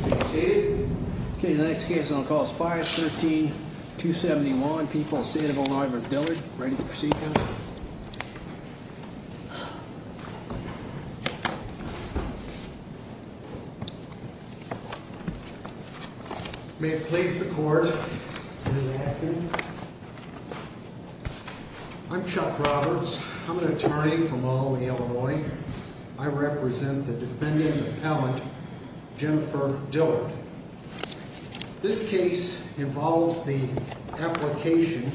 Okay, the next case on call is 513-271. People of the state of Illinois v. Dillard. Ready for proceedings. May it please the court. Good afternoon. I'm Chuck Roberts. I'm an attorney from Albany, Illinois. I represent the defendant appellant, Jennifer Dillard. This case involves the application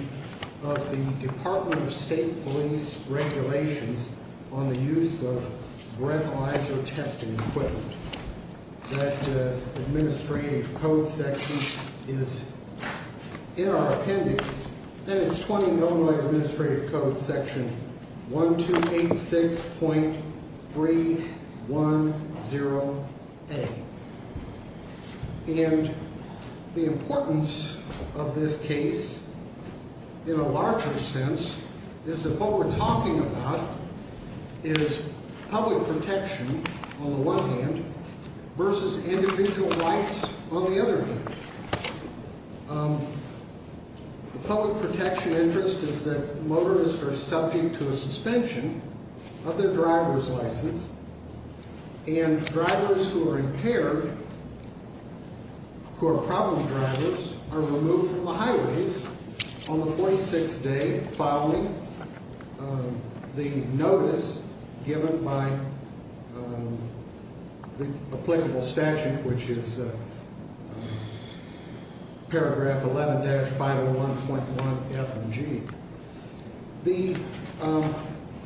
of the Department of State Police regulations on the use of breathalyzer testing equipment. That administrative code section is in our appendix. And it's 20 Illinois Administrative Code Section 1286.310A. And the importance of this case in a larger sense is that what we're talking about is public protection on the one hand versus individual rights on the other hand. The public protection interest is that motorists are subject to a suspension of their driver's license. And drivers who are impaired, who are problem drivers, are removed from the highways on the 46th day following the notice given by the applicable statute, which is paragraph 11-501.1F and G. The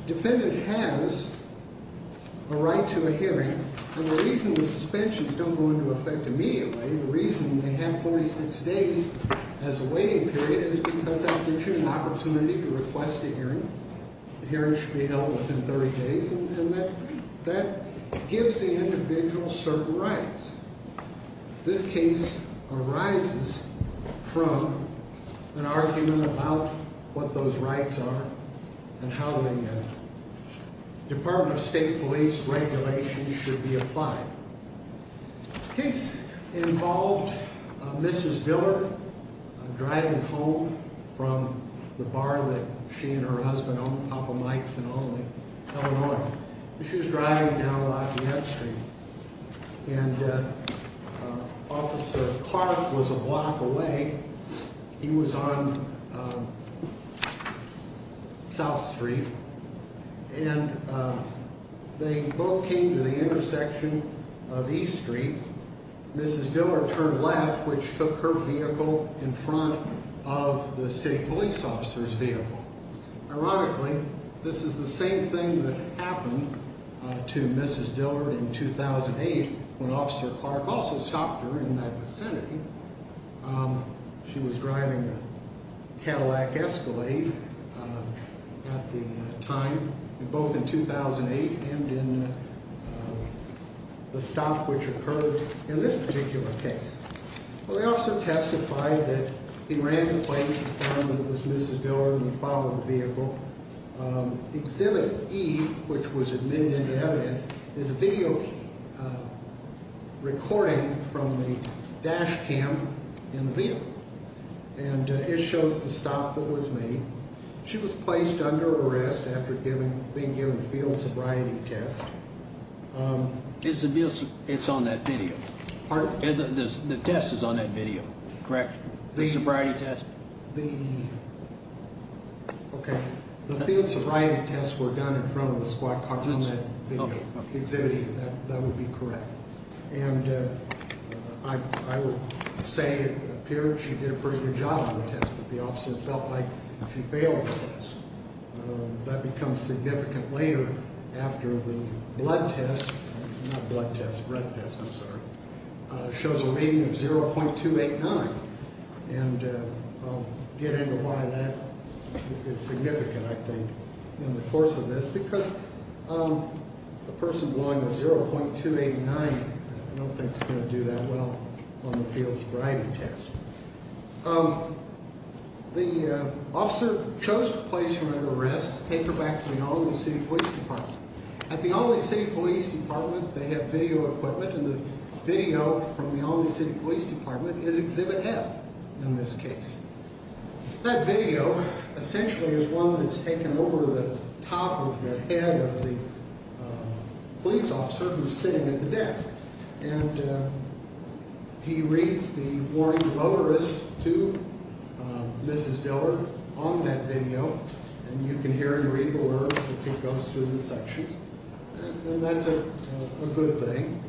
defendant has a right to a hearing. And the reason the suspensions don't go into effect immediately, the reason they have 46 days as a waiting period, is because that gives you an opportunity to request a hearing. The hearing should be held within 30 days. And that gives the individual certain rights. This case arises from an argument about what those rights are and how the Department of State Police regulations should be applied. The case involved Mrs. Diller driving home from the bar that she and her husband own, Papa Mike's and Only, Illinois. She was driving down Lafayette Street. And Officer Clark was a block away. He was on South Street. And they both came to the intersection of East Street. Mrs. Diller turned left, which took her vehicle in front of the state police officer's vehicle. Ironically, this is the same thing that happened to Mrs. Diller in 2008 when Officer Clark also stopped her in that vicinity. She was driving the Cadillac Escalade at the time, both in 2008 and in the stop which occurred in this particular case. Well, the officer testified that he ran the plate and found that it was Mrs. Diller and he followed the vehicle. Exhibit E, which was admitted into evidence, is a video recording from the dash cam in the vehicle. And it shows the stop that was made. She was placed under arrest after being given a field sobriety test. It's on that video. The test is on that video, correct? The sobriety test? Okay. The field sobriety tests were done in front of the squad car on that video. Exhibit E, that would be correct. And I would say it appeared she did a pretty good job on the test, but the officer felt like she failed the test. That becomes significant later after the blood test, not blood test, breath test, I'm sorry, shows a rating of 0.289. And I'll get into why that is significant, I think, in the course of this, because a person blowing a 0.289, I don't think is going to do that well on the field sobriety test. The officer chose to place her under arrest, take her back to the Albany City Police Department. At the Albany City Police Department, they have video equipment, and the video from the Albany City Police Department is Exhibit F in this case. That video essentially is one that's taken over the top of the head of the police officer who's sitting at the desk. And he reads the warning notarist to Mrs. Diller on that video, and you can hear and read the words as it goes through the sections. And that's a good thing.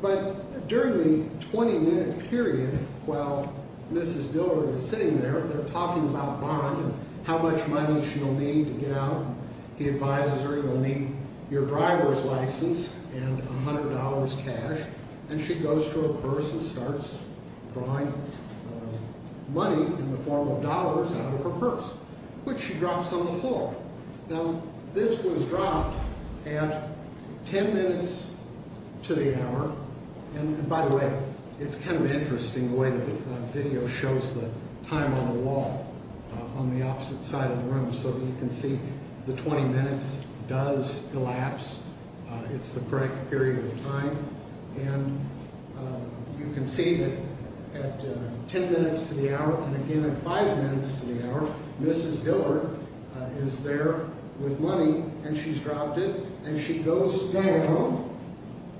But during the 20-minute period while Mrs. Diller is sitting there, they're talking about bond and how much money she'll need to get out. He advises her, you'll need your driver's license and $100 cash. And she goes to her purse and starts drawing money in the form of dollars out of her purse, which she drops on the floor. Now, this was dropped at 10 minutes to the hour. And by the way, it's kind of interesting the way that the video shows the time on the wall on the opposite side of the room so that you can see the 20 minutes does elapse. It's the correct period of time. And you can see that at 10 minutes to the hour and again at 5 minutes to the hour, Mrs. Diller is there with money and she's dropped it. And she goes down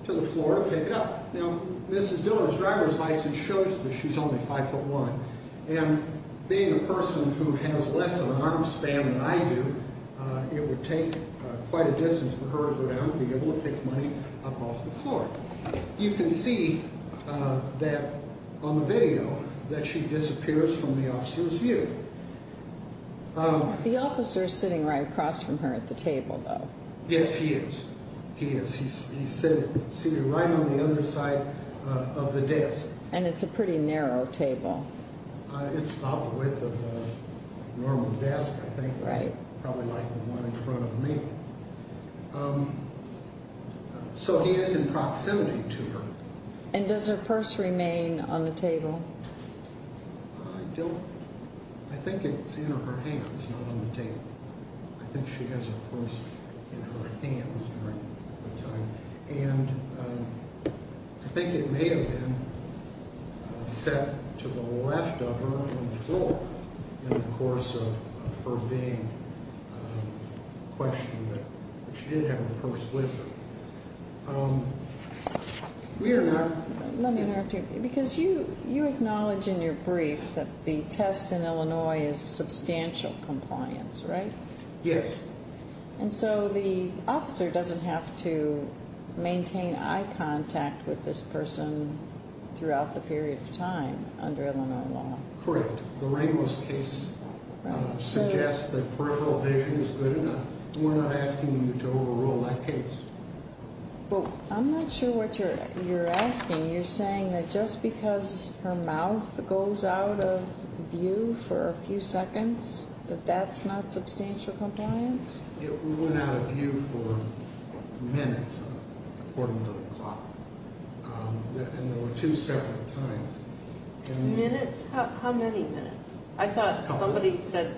to the floor to pick up. Now, Mrs. Diller's driver's license shows that she's only 5'1". And being a person who has less of an arm span than I do, it would take quite a distance for her to go down and be able to pick money up off the floor. You can see that on the video that she disappears from the officer's view. The officer's sitting right across from her at the table, though. Yes, he is. He is. He's sitting right on the other side of the desk. And it's a pretty narrow table. It's about the width of a normal desk, I think. Right. Probably like the one in front of me. So he is in proximity to her. And does her purse remain on the table? I don't... I think it's in her hands, not on the table. I think she has her purse in her hands during that time. And I think it may have been set to the left of her on the floor in the course of her being questioned. But she did have her purse with her. Let me interrupt you. Because you acknowledge in your brief that the test in Illinois is substantial compliance, right? Yes. And so the officer doesn't have to maintain eye contact with this person throughout the period of time under Illinois law. Correct. The Ramos case suggests that peripheral vision is good enough. We're not asking you to overrule that case. Well, I'm not sure what you're asking. You're saying that just because her mouth goes out of view for a few seconds, that that's not substantial compliance? It went out of view for minutes, according to the clock. And there were two separate times. Minutes? How many minutes? I thought somebody said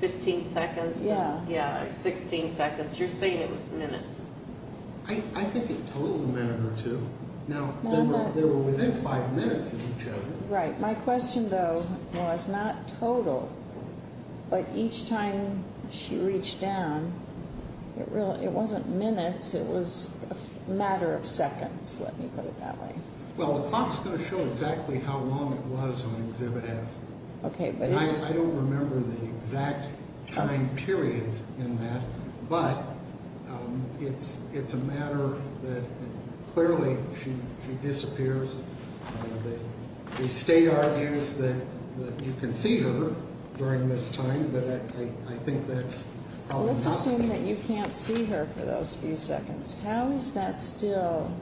15 seconds. Yeah. Yeah, 16 seconds. You're saying it was minutes. I think it totaled a minute or two. Now, they were within five minutes of each other. Right. My question, though, was not total. But each time she reached down, it wasn't minutes. It was a matter of seconds, let me put it that way. Well, the clock is going to show exactly how long it was on Exhibit F. I don't remember the exact time periods in that, but it's a matter that clearly she disappears. The state argues that you can see her during this time, but I think that's probably not the case. Let's assume that you can't see her for those few seconds. How is that still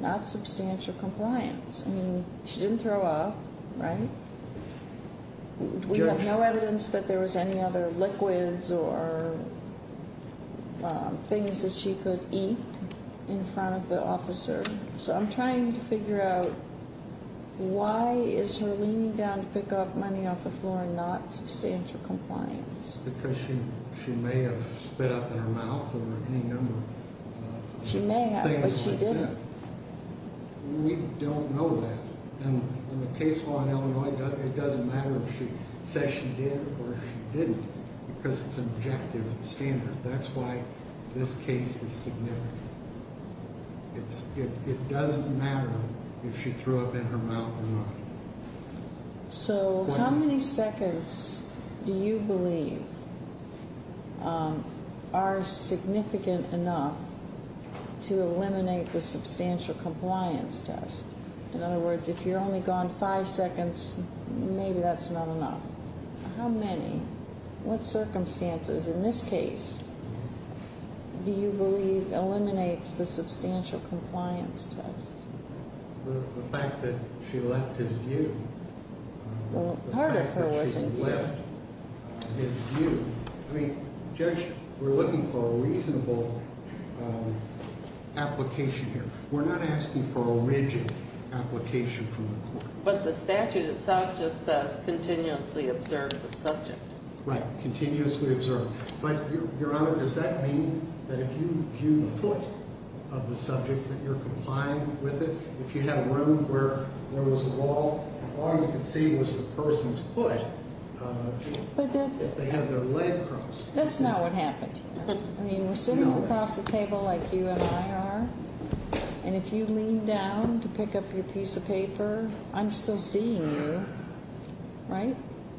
not substantial compliance? I mean, she didn't throw up, right? We have no evidence that there was any other liquids or things that she could eat in front of the officer. So I'm trying to figure out why is her leaning down to pick up money off the floor not substantial compliance? Because she may have spit up in her mouth or any number of things like that. She may have, but she didn't. We don't know that. In the case law in Illinois, it doesn't matter if she says she did or she didn't because it's an objective standard. That's why this case is significant. It doesn't matter if she threw up in her mouth or not. So how many seconds do you believe are significant enough to eliminate the substantial compliance test? In other words, if you're only gone five seconds, maybe that's not enough. How many? What circumstances in this case do you believe eliminates the substantial compliance test? The fact that she left his view. Well, part of her wasn't there. The fact that she left his view. I mean, Judge, we're looking for a reasonable application here. We're not asking for a rigid application from the court. But the statute itself just says continuously observe the subject. Right, continuously observe. But, Your Honor, does that mean that if you view the foot of the subject, that you're complying with it? If you had a room where there was a wall, all you could see was the person's foot, if they had their leg crossed. That's not what happened here. I mean, we're sitting across the table like you and I are, and if you lean down to pick up your piece of paper, I'm still seeing you, right?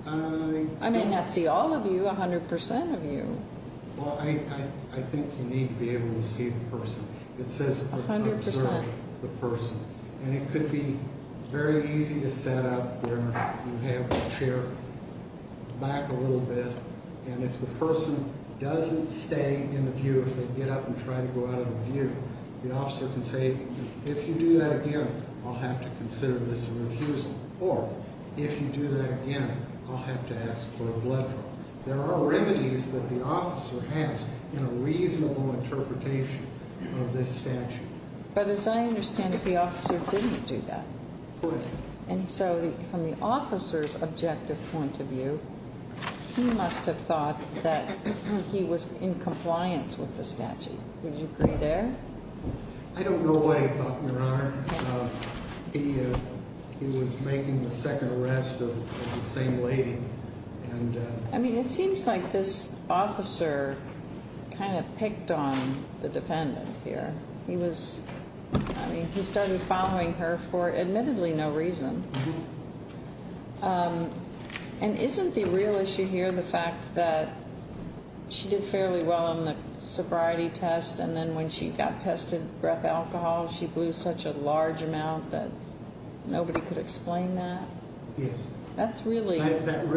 I may not see all of you, 100% of you. Well, I think you need to be able to see the person. It says observe the person. And it could be very easy to set up where you have the chair back a little bit. And if the person doesn't stay in the view, if they get up and try to go out of the view, the officer can say, if you do that again, I'll have to consider this a refusal. Or, if you do that again, I'll have to ask for a blood draw. There are remedies that the officer has in a reasonable interpretation of this statute. But as I understand it, the officer didn't do that. Correct. And so from the officer's objective point of view, he must have thought that he was in compliance with the statute. Would you agree there? I don't know what he thought, Your Honor. He was making the second arrest of the same lady. I mean, it seems like this officer kind of picked on the defendant here. He was, I mean, he started following her for admittedly no reason. And isn't the real issue here the fact that she did fairly well on the sobriety test, and then when she got tested, breath alcohol, she blew such a large amount that nobody could explain that? Yes. That's really ‑‑ That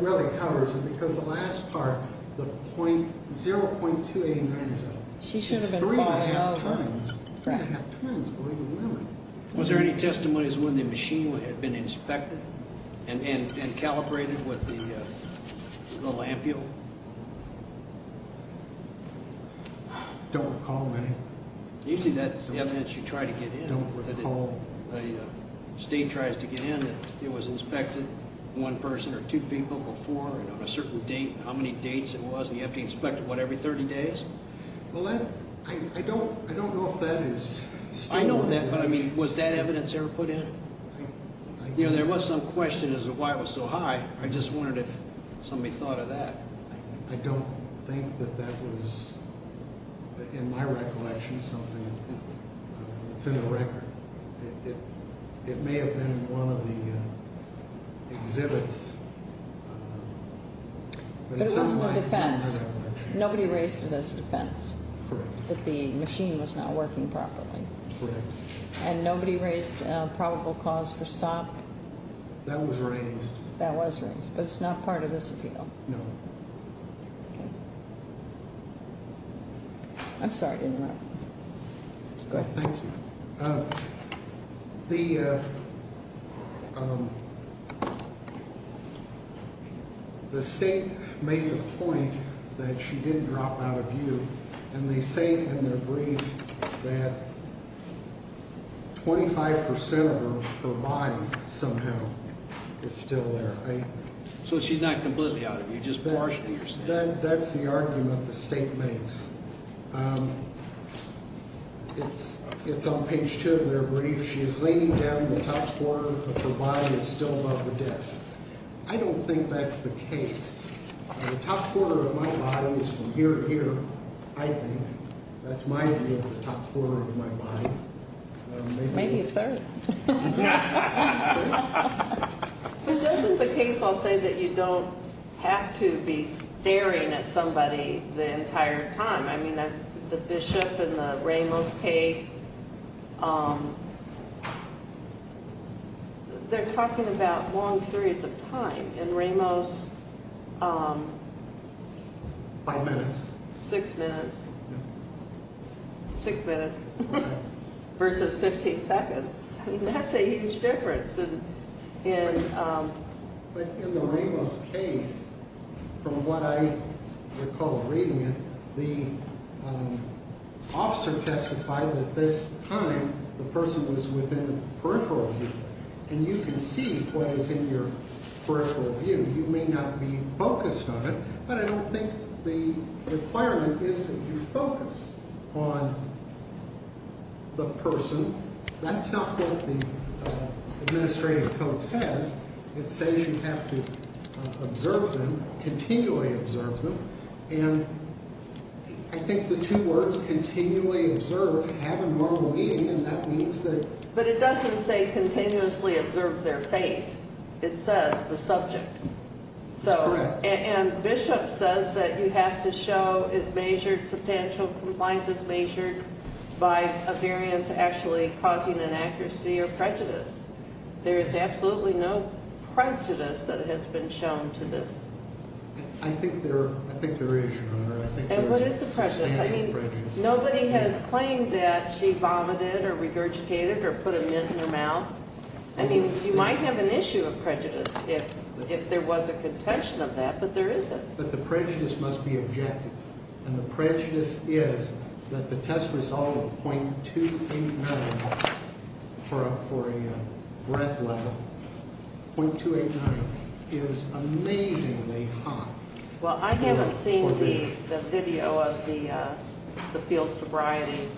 really covers it, because the last part, the 0.289 is up. She should have been 5. It's 3.5 times. 3.5 times, believe it or not. Was there any testimonies when the machine had been inspected and calibrated with the lampule? I don't recall any. Usually that's the evidence you try to get in. I don't recall. The state tries to get in that it was inspected, one person or two people before, and on a certain date, how many dates it was, and you have to inspect it, what, every 30 days? Well, I don't know if that is still ‑‑ I know that, but, I mean, was that evidence ever put in? There was some question as to why it was so high. I just wondered if somebody thought of that. I don't think that that was, in my recollection, something. It's in the record. It may have been in one of the exhibits. But it wasn't a defense. Nobody raised it as a defense. Correct. The machine was not working properly. Correct. And nobody raised probable cause for stop? That was raised. That was raised, but it's not part of this appeal. No. Okay. I'm sorry to interrupt. Go ahead. Thank you. The state made the point that she didn't drop out of you, and they say in their brief that 25% of her body somehow is still there. So she's not completely out of you, just partially? That's the argument the state makes. It's on page two of their brief. She is leaning down, and the top quarter of her body is still above the desk. I don't think that's the case. The top quarter of my body is from here to here, I think. That's my view of the top quarter of my body. Maybe a third. But doesn't the case law say that you don't have to be staring at somebody the entire time? I mean, the Bishop in the Ramos case, they're talking about long periods of time. In Ramos, five minutes. Six minutes. Six minutes. Versus 15 seconds. I mean, that's a huge difference. But in the Ramos case, from what I recall reading it, the officer testified that this time the person was within peripheral view, and you can see what is in your peripheral view. You may not be focused on it, but I don't think the requirement is that you focus on the person. That's not what the administrative code says. It says you have to observe them, continually observe them. And I think the two words, continually observe, have a normal meaning, and that means that. But it doesn't say continuously observe their face. It says the subject. That's correct. And Bishop says that you have to show as measured substantial compliances measured by a variance actually causing an accuracy or prejudice. There is absolutely no prejudice that has been shown to this. I think there is, Your Honor. And what is the prejudice? I mean, nobody has claimed that she vomited or regurgitated or put a mint in her mouth. I mean, you might have an issue of prejudice if there was a contention of that, but there isn't. But the prejudice must be objected. And the prejudice is that the test result of .289 for a breath level, .289 is amazingly hot. Well, I haven't seen the video of the field sobriety.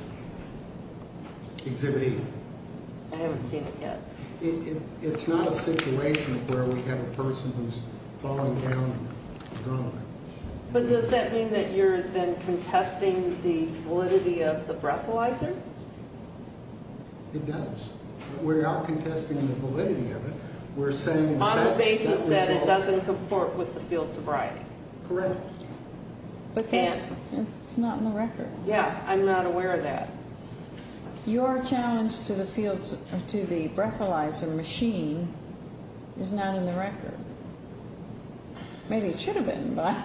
Exhibit E. I haven't seen it yet. It's not a situation where we have a person who's falling down drunk. But does that mean that you're then contesting the validity of the breathalyzer? It does. We're not contesting the validity of it. We're saying that the test result. On the basis that it doesn't comport with the field sobriety. Correct. But it's not in the record. Yeah, I'm not aware of that. Your challenge to the breathalyzer machine is not in the record. Maybe it should have been, but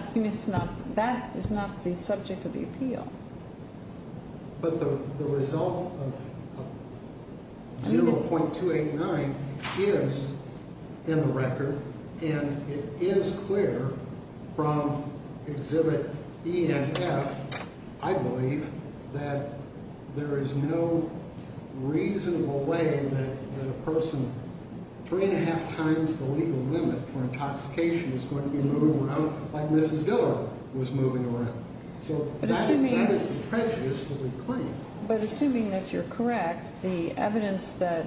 that is not the subject of the appeal. But the result of 0.289 is in the record. And it is clear from exhibit E and F, I believe, that there is no reasonable way that a person three and a half times the legal limit for intoxication is going to be moving around like Mrs. Dillard was moving around. So that is the prejudice that we claim. But assuming that you're correct, the evidence that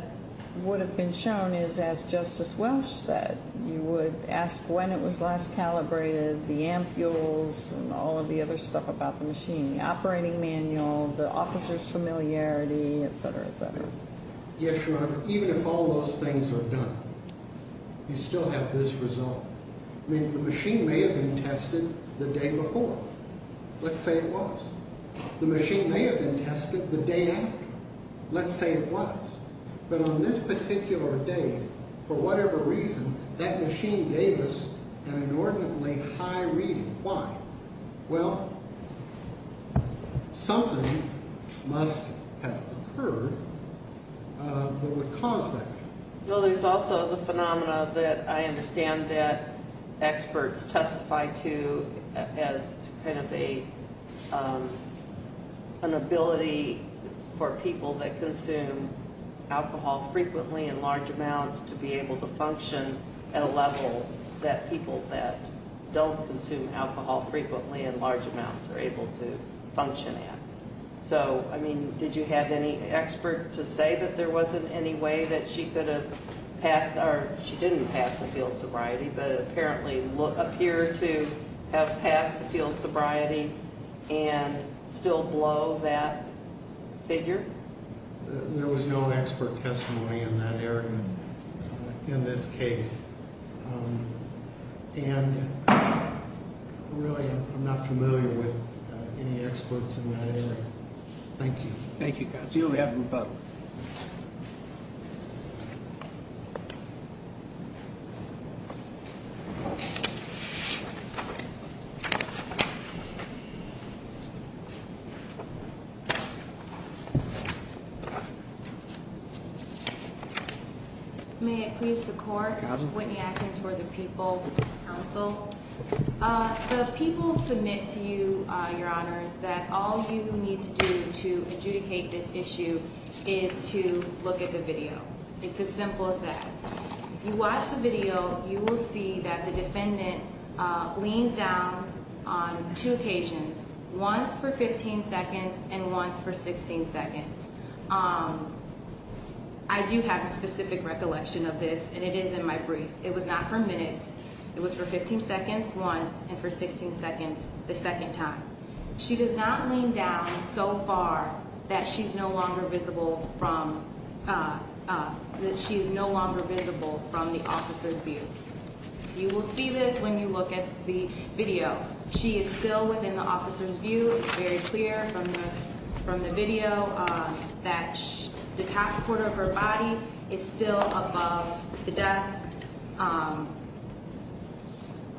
would have been shown is, as Justice Welch said, you would ask when it was last calibrated, the ampules and all of the other stuff about the machine, the operating manual, the officer's familiarity, et cetera, et cetera. Yes, Your Honor. Even if all those things are done, you still have this result. I mean, the machine may have been tested the day before. Let's say it was. The machine may have been tested the day after. Let's say it was. But on this particular day, for whatever reason, that machine gave us an inordinately high reading. Why? Well, something must have occurred that would cause that. Well, there's also the phenomena that I understand that experts testify to as kind of an ability for people that consume alcohol frequently in large amounts to be able to function at a level that people that don't consume alcohol frequently in large amounts are able to function at. So, I mean, did you have any expert to say that there wasn't any way that she could have passed or she didn't pass the field sobriety, but apparently appear to have passed the field sobriety and still blow that figure? There was no expert testimony in that area in this case. And, really, I'm not familiar with any experts in that area. Thank you. Thank you. On behalf of the public. May it please the court. Whitney Atkins for the People Council. The people submit to you, your honors, that all you need to do to adjudicate this issue is to look at the video. It's as simple as that. If you watch the video, you will see that the defendant leans down on two occasions, once for 15 seconds and once for 16 seconds. I do have a specific recollection of this, and it is in my brief. It was not for minutes. It was for 15 seconds once and for 16 seconds the second time. She does not lean down so far that she is no longer visible from the officer's view. You will see this when you look at the video. She is still within the officer's view. It's very clear from the video that the top quarter of her body is still above the desk.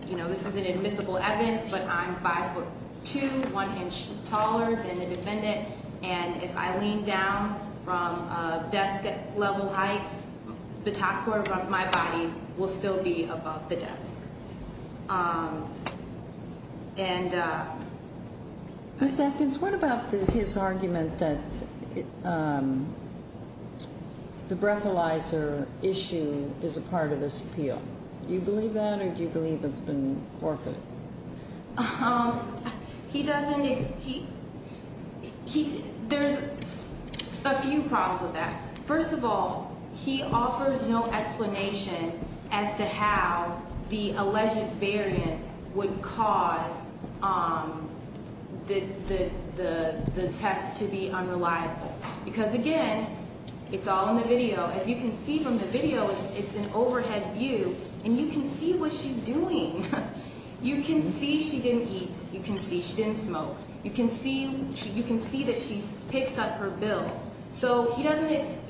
You know, this isn't admissible evidence, but I'm 5'2", one inch taller than the defendant. And if I lean down from a desk-level height, the top quarter of my body will still be above the desk. Ms. Atkins, what about his argument that the breathalyzer issue is a part of this appeal? Do you believe that, or do you believe it's been forfeited? There's a few problems with that. First of all, he offers no explanation as to how the alleged variance would cause the test to be unreliable. Because, again, it's all in the video. As you can see from the video, it's an overhead view, and you can see what she's doing. You can see she didn't eat. You can see she didn't smoke. You can see that she picks up her bills. So, not only is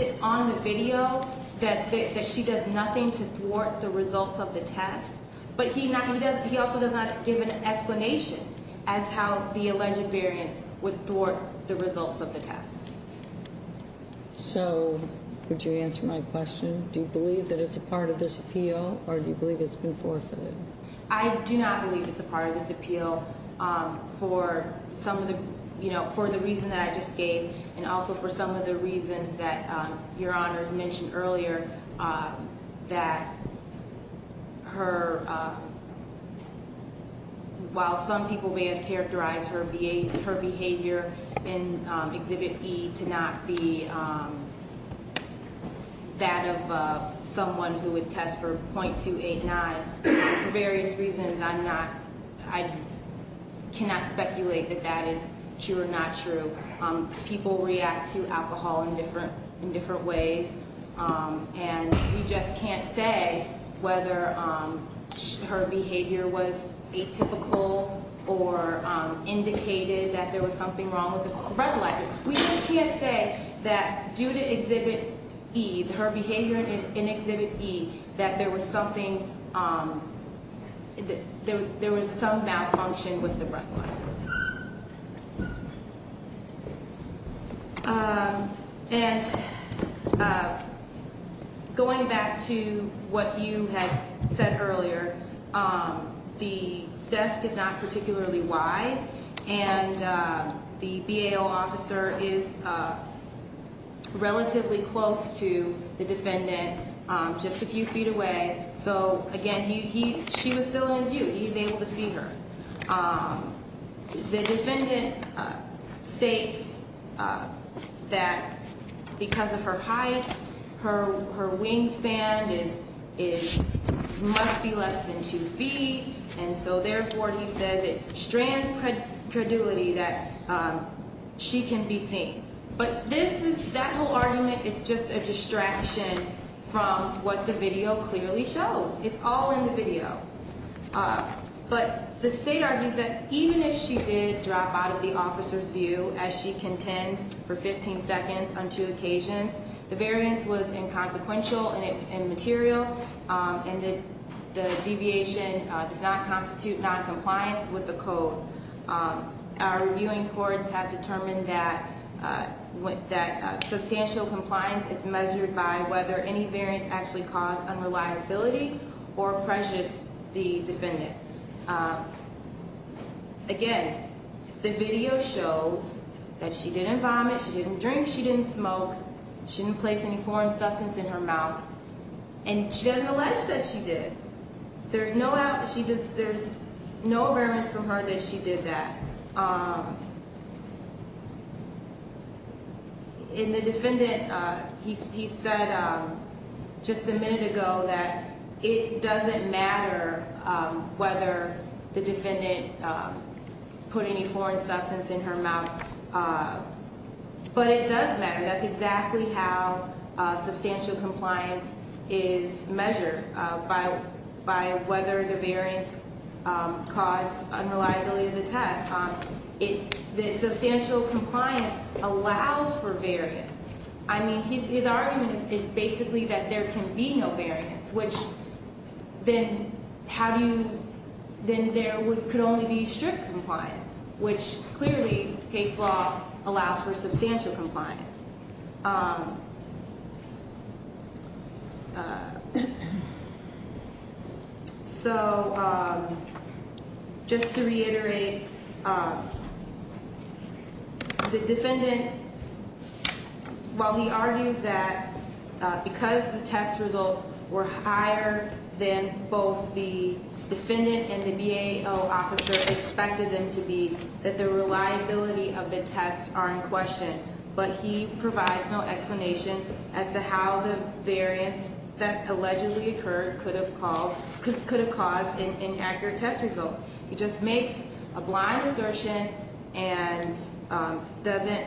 it on the video that she does nothing to thwart the results of the test, but he also does not give an explanation as to how the alleged variance would thwart the results of the test. So, would you answer my question? Do you believe that it's a part of this appeal, or do you believe it's been forfeited? I do not believe it's a part of this appeal for the reason that I just gave and also for some of the reasons that Your Honors mentioned earlier, that while some people may have characterized her behavior in Exhibit E to not be that of someone who would test for 0.289, for various reasons, I cannot speculate that that is true or not true. People react to alcohol in different ways, and we just can't say whether her behavior was atypical or indicated that there was something wrong with the breathalyzer. We just can't say that due to Exhibit E, her behavior in Exhibit E, that there was some malfunction with the breathalyzer. And going back to what you had said earlier, the desk is not particularly wide, and the BAO officer is relatively close to the defendant, just a few feet away. So, again, she was still in his view. He was able to see her. The defendant states that because of her height, her wingspan must be less than two feet, and so therefore he says it strands credulity that she can be seen. But that whole argument is just a distraction from what the video clearly shows. It's all in the video. But the state argues that even if she did drop out of the officer's view as she contends for 15 seconds on two occasions, the variance was inconsequential and it was immaterial, and that the deviation does not constitute noncompliance with the code. Our reviewing courts have determined that substantial compliance is measured by whether any variance actually caused unreliability or pressures the defendant. Again, the video shows that she didn't vomit, she didn't drink, she didn't smoke, she didn't place any foreign substance in her mouth, and she doesn't allege that she did. There's no variance from her that she did that. In the defendant, he said just a minute ago that it doesn't matter whether the defendant put any foreign substance in her mouth, but it does matter. That's exactly how substantial compliance is measured, by whether the variance caused unreliability of the test. The substantial compliance allows for variance. I mean, his argument is basically that there can be no variance, which then there could only be strict compliance, which clearly case law allows for substantial compliance. So just to reiterate, the defendant, while he argues that because the test results were higher than both the defendant and the BAO officer expected them to be, that the reliability of the tests are in question, but he provides no explanation as to how the variance that allegedly occurred could have caused an inaccurate test result. He just makes a blind assertion and doesn't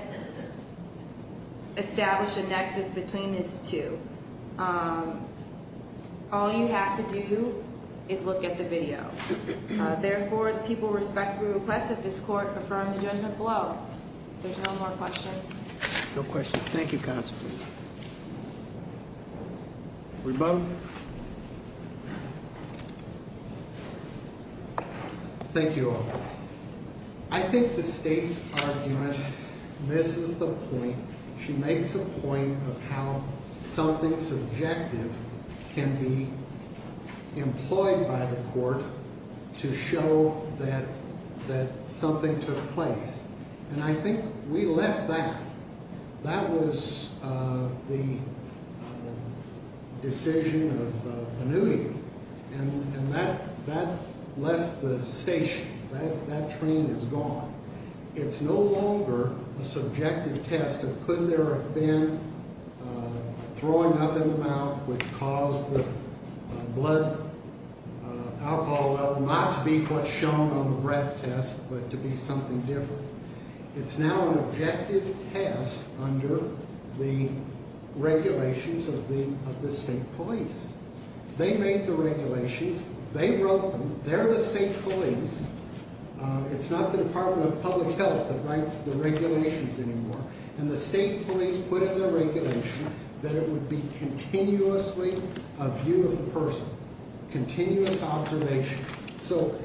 establish a nexus between these two. All you have to do is look at the video. Therefore, people respectfully request that this court confirm the judgment below. If there's no more questions. No questions. Thank you, counsel. Rebuttal. Thank you all. I think the state's argument misses the point. She makes a point of how something subjective can be employed by the court to show that something took place. And I think we left that. That was the decision of Benutti. And that left the station. That train is gone. It's no longer a subjective test of could there have been throwing up in the mouth which caused the blood alcohol level not to be what's shown on the breath test, but to be something different. It's now an objective test under the regulations of the state police. They made the regulations. They wrote them. They're the state police. It's not the Department of Public Health that writes the regulations anymore. And the state police put in their regulation that it would be continuously a view of the person. Continuous observation. So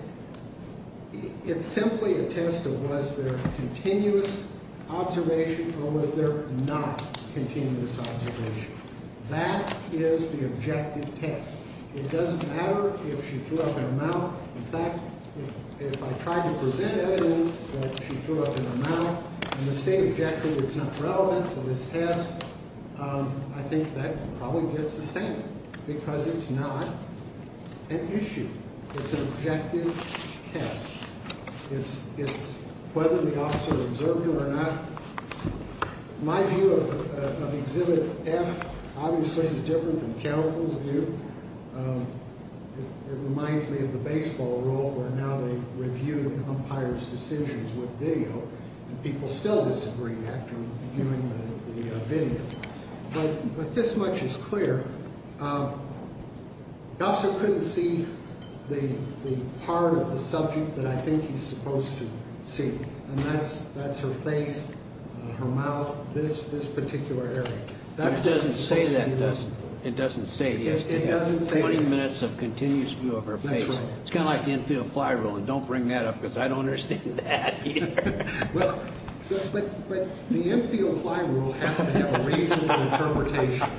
it's simply a test of was there continuous observation or was there not continuous observation. That is the objective test. It doesn't matter if she threw up in her mouth. In fact, if I tried to present evidence that she threw up in her mouth and the state objected that it's not relevant to this test, I think that would probably get sustained because it's not an issue. It's an objective test. It's whether the officer observed it or not. My view of Exhibit F obviously is different than counsel's view. It reminds me of the baseball rule where now they review the umpire's decisions with video and people still disagree after viewing the video. But this much is clear. The officer couldn't see the part of the subject that I think he's supposed to see, and that's her face, her mouth, this particular area. It doesn't say it has to have 20 minutes of continuous view of her face. It's kind of like the infield fly rule, and don't bring that up because I don't understand that either. But the infield fly rule has to have a reasonable interpretation,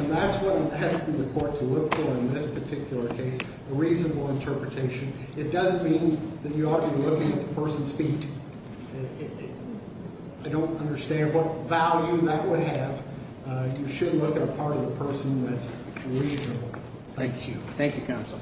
and that's what it has for the court to look for in this particular case, a reasonable interpretation. It doesn't mean that you ought to be looking at the person's feet. I don't understand what value that would have. You should look at a part of the person that's reasonable. Thank you. Thank you, counsel.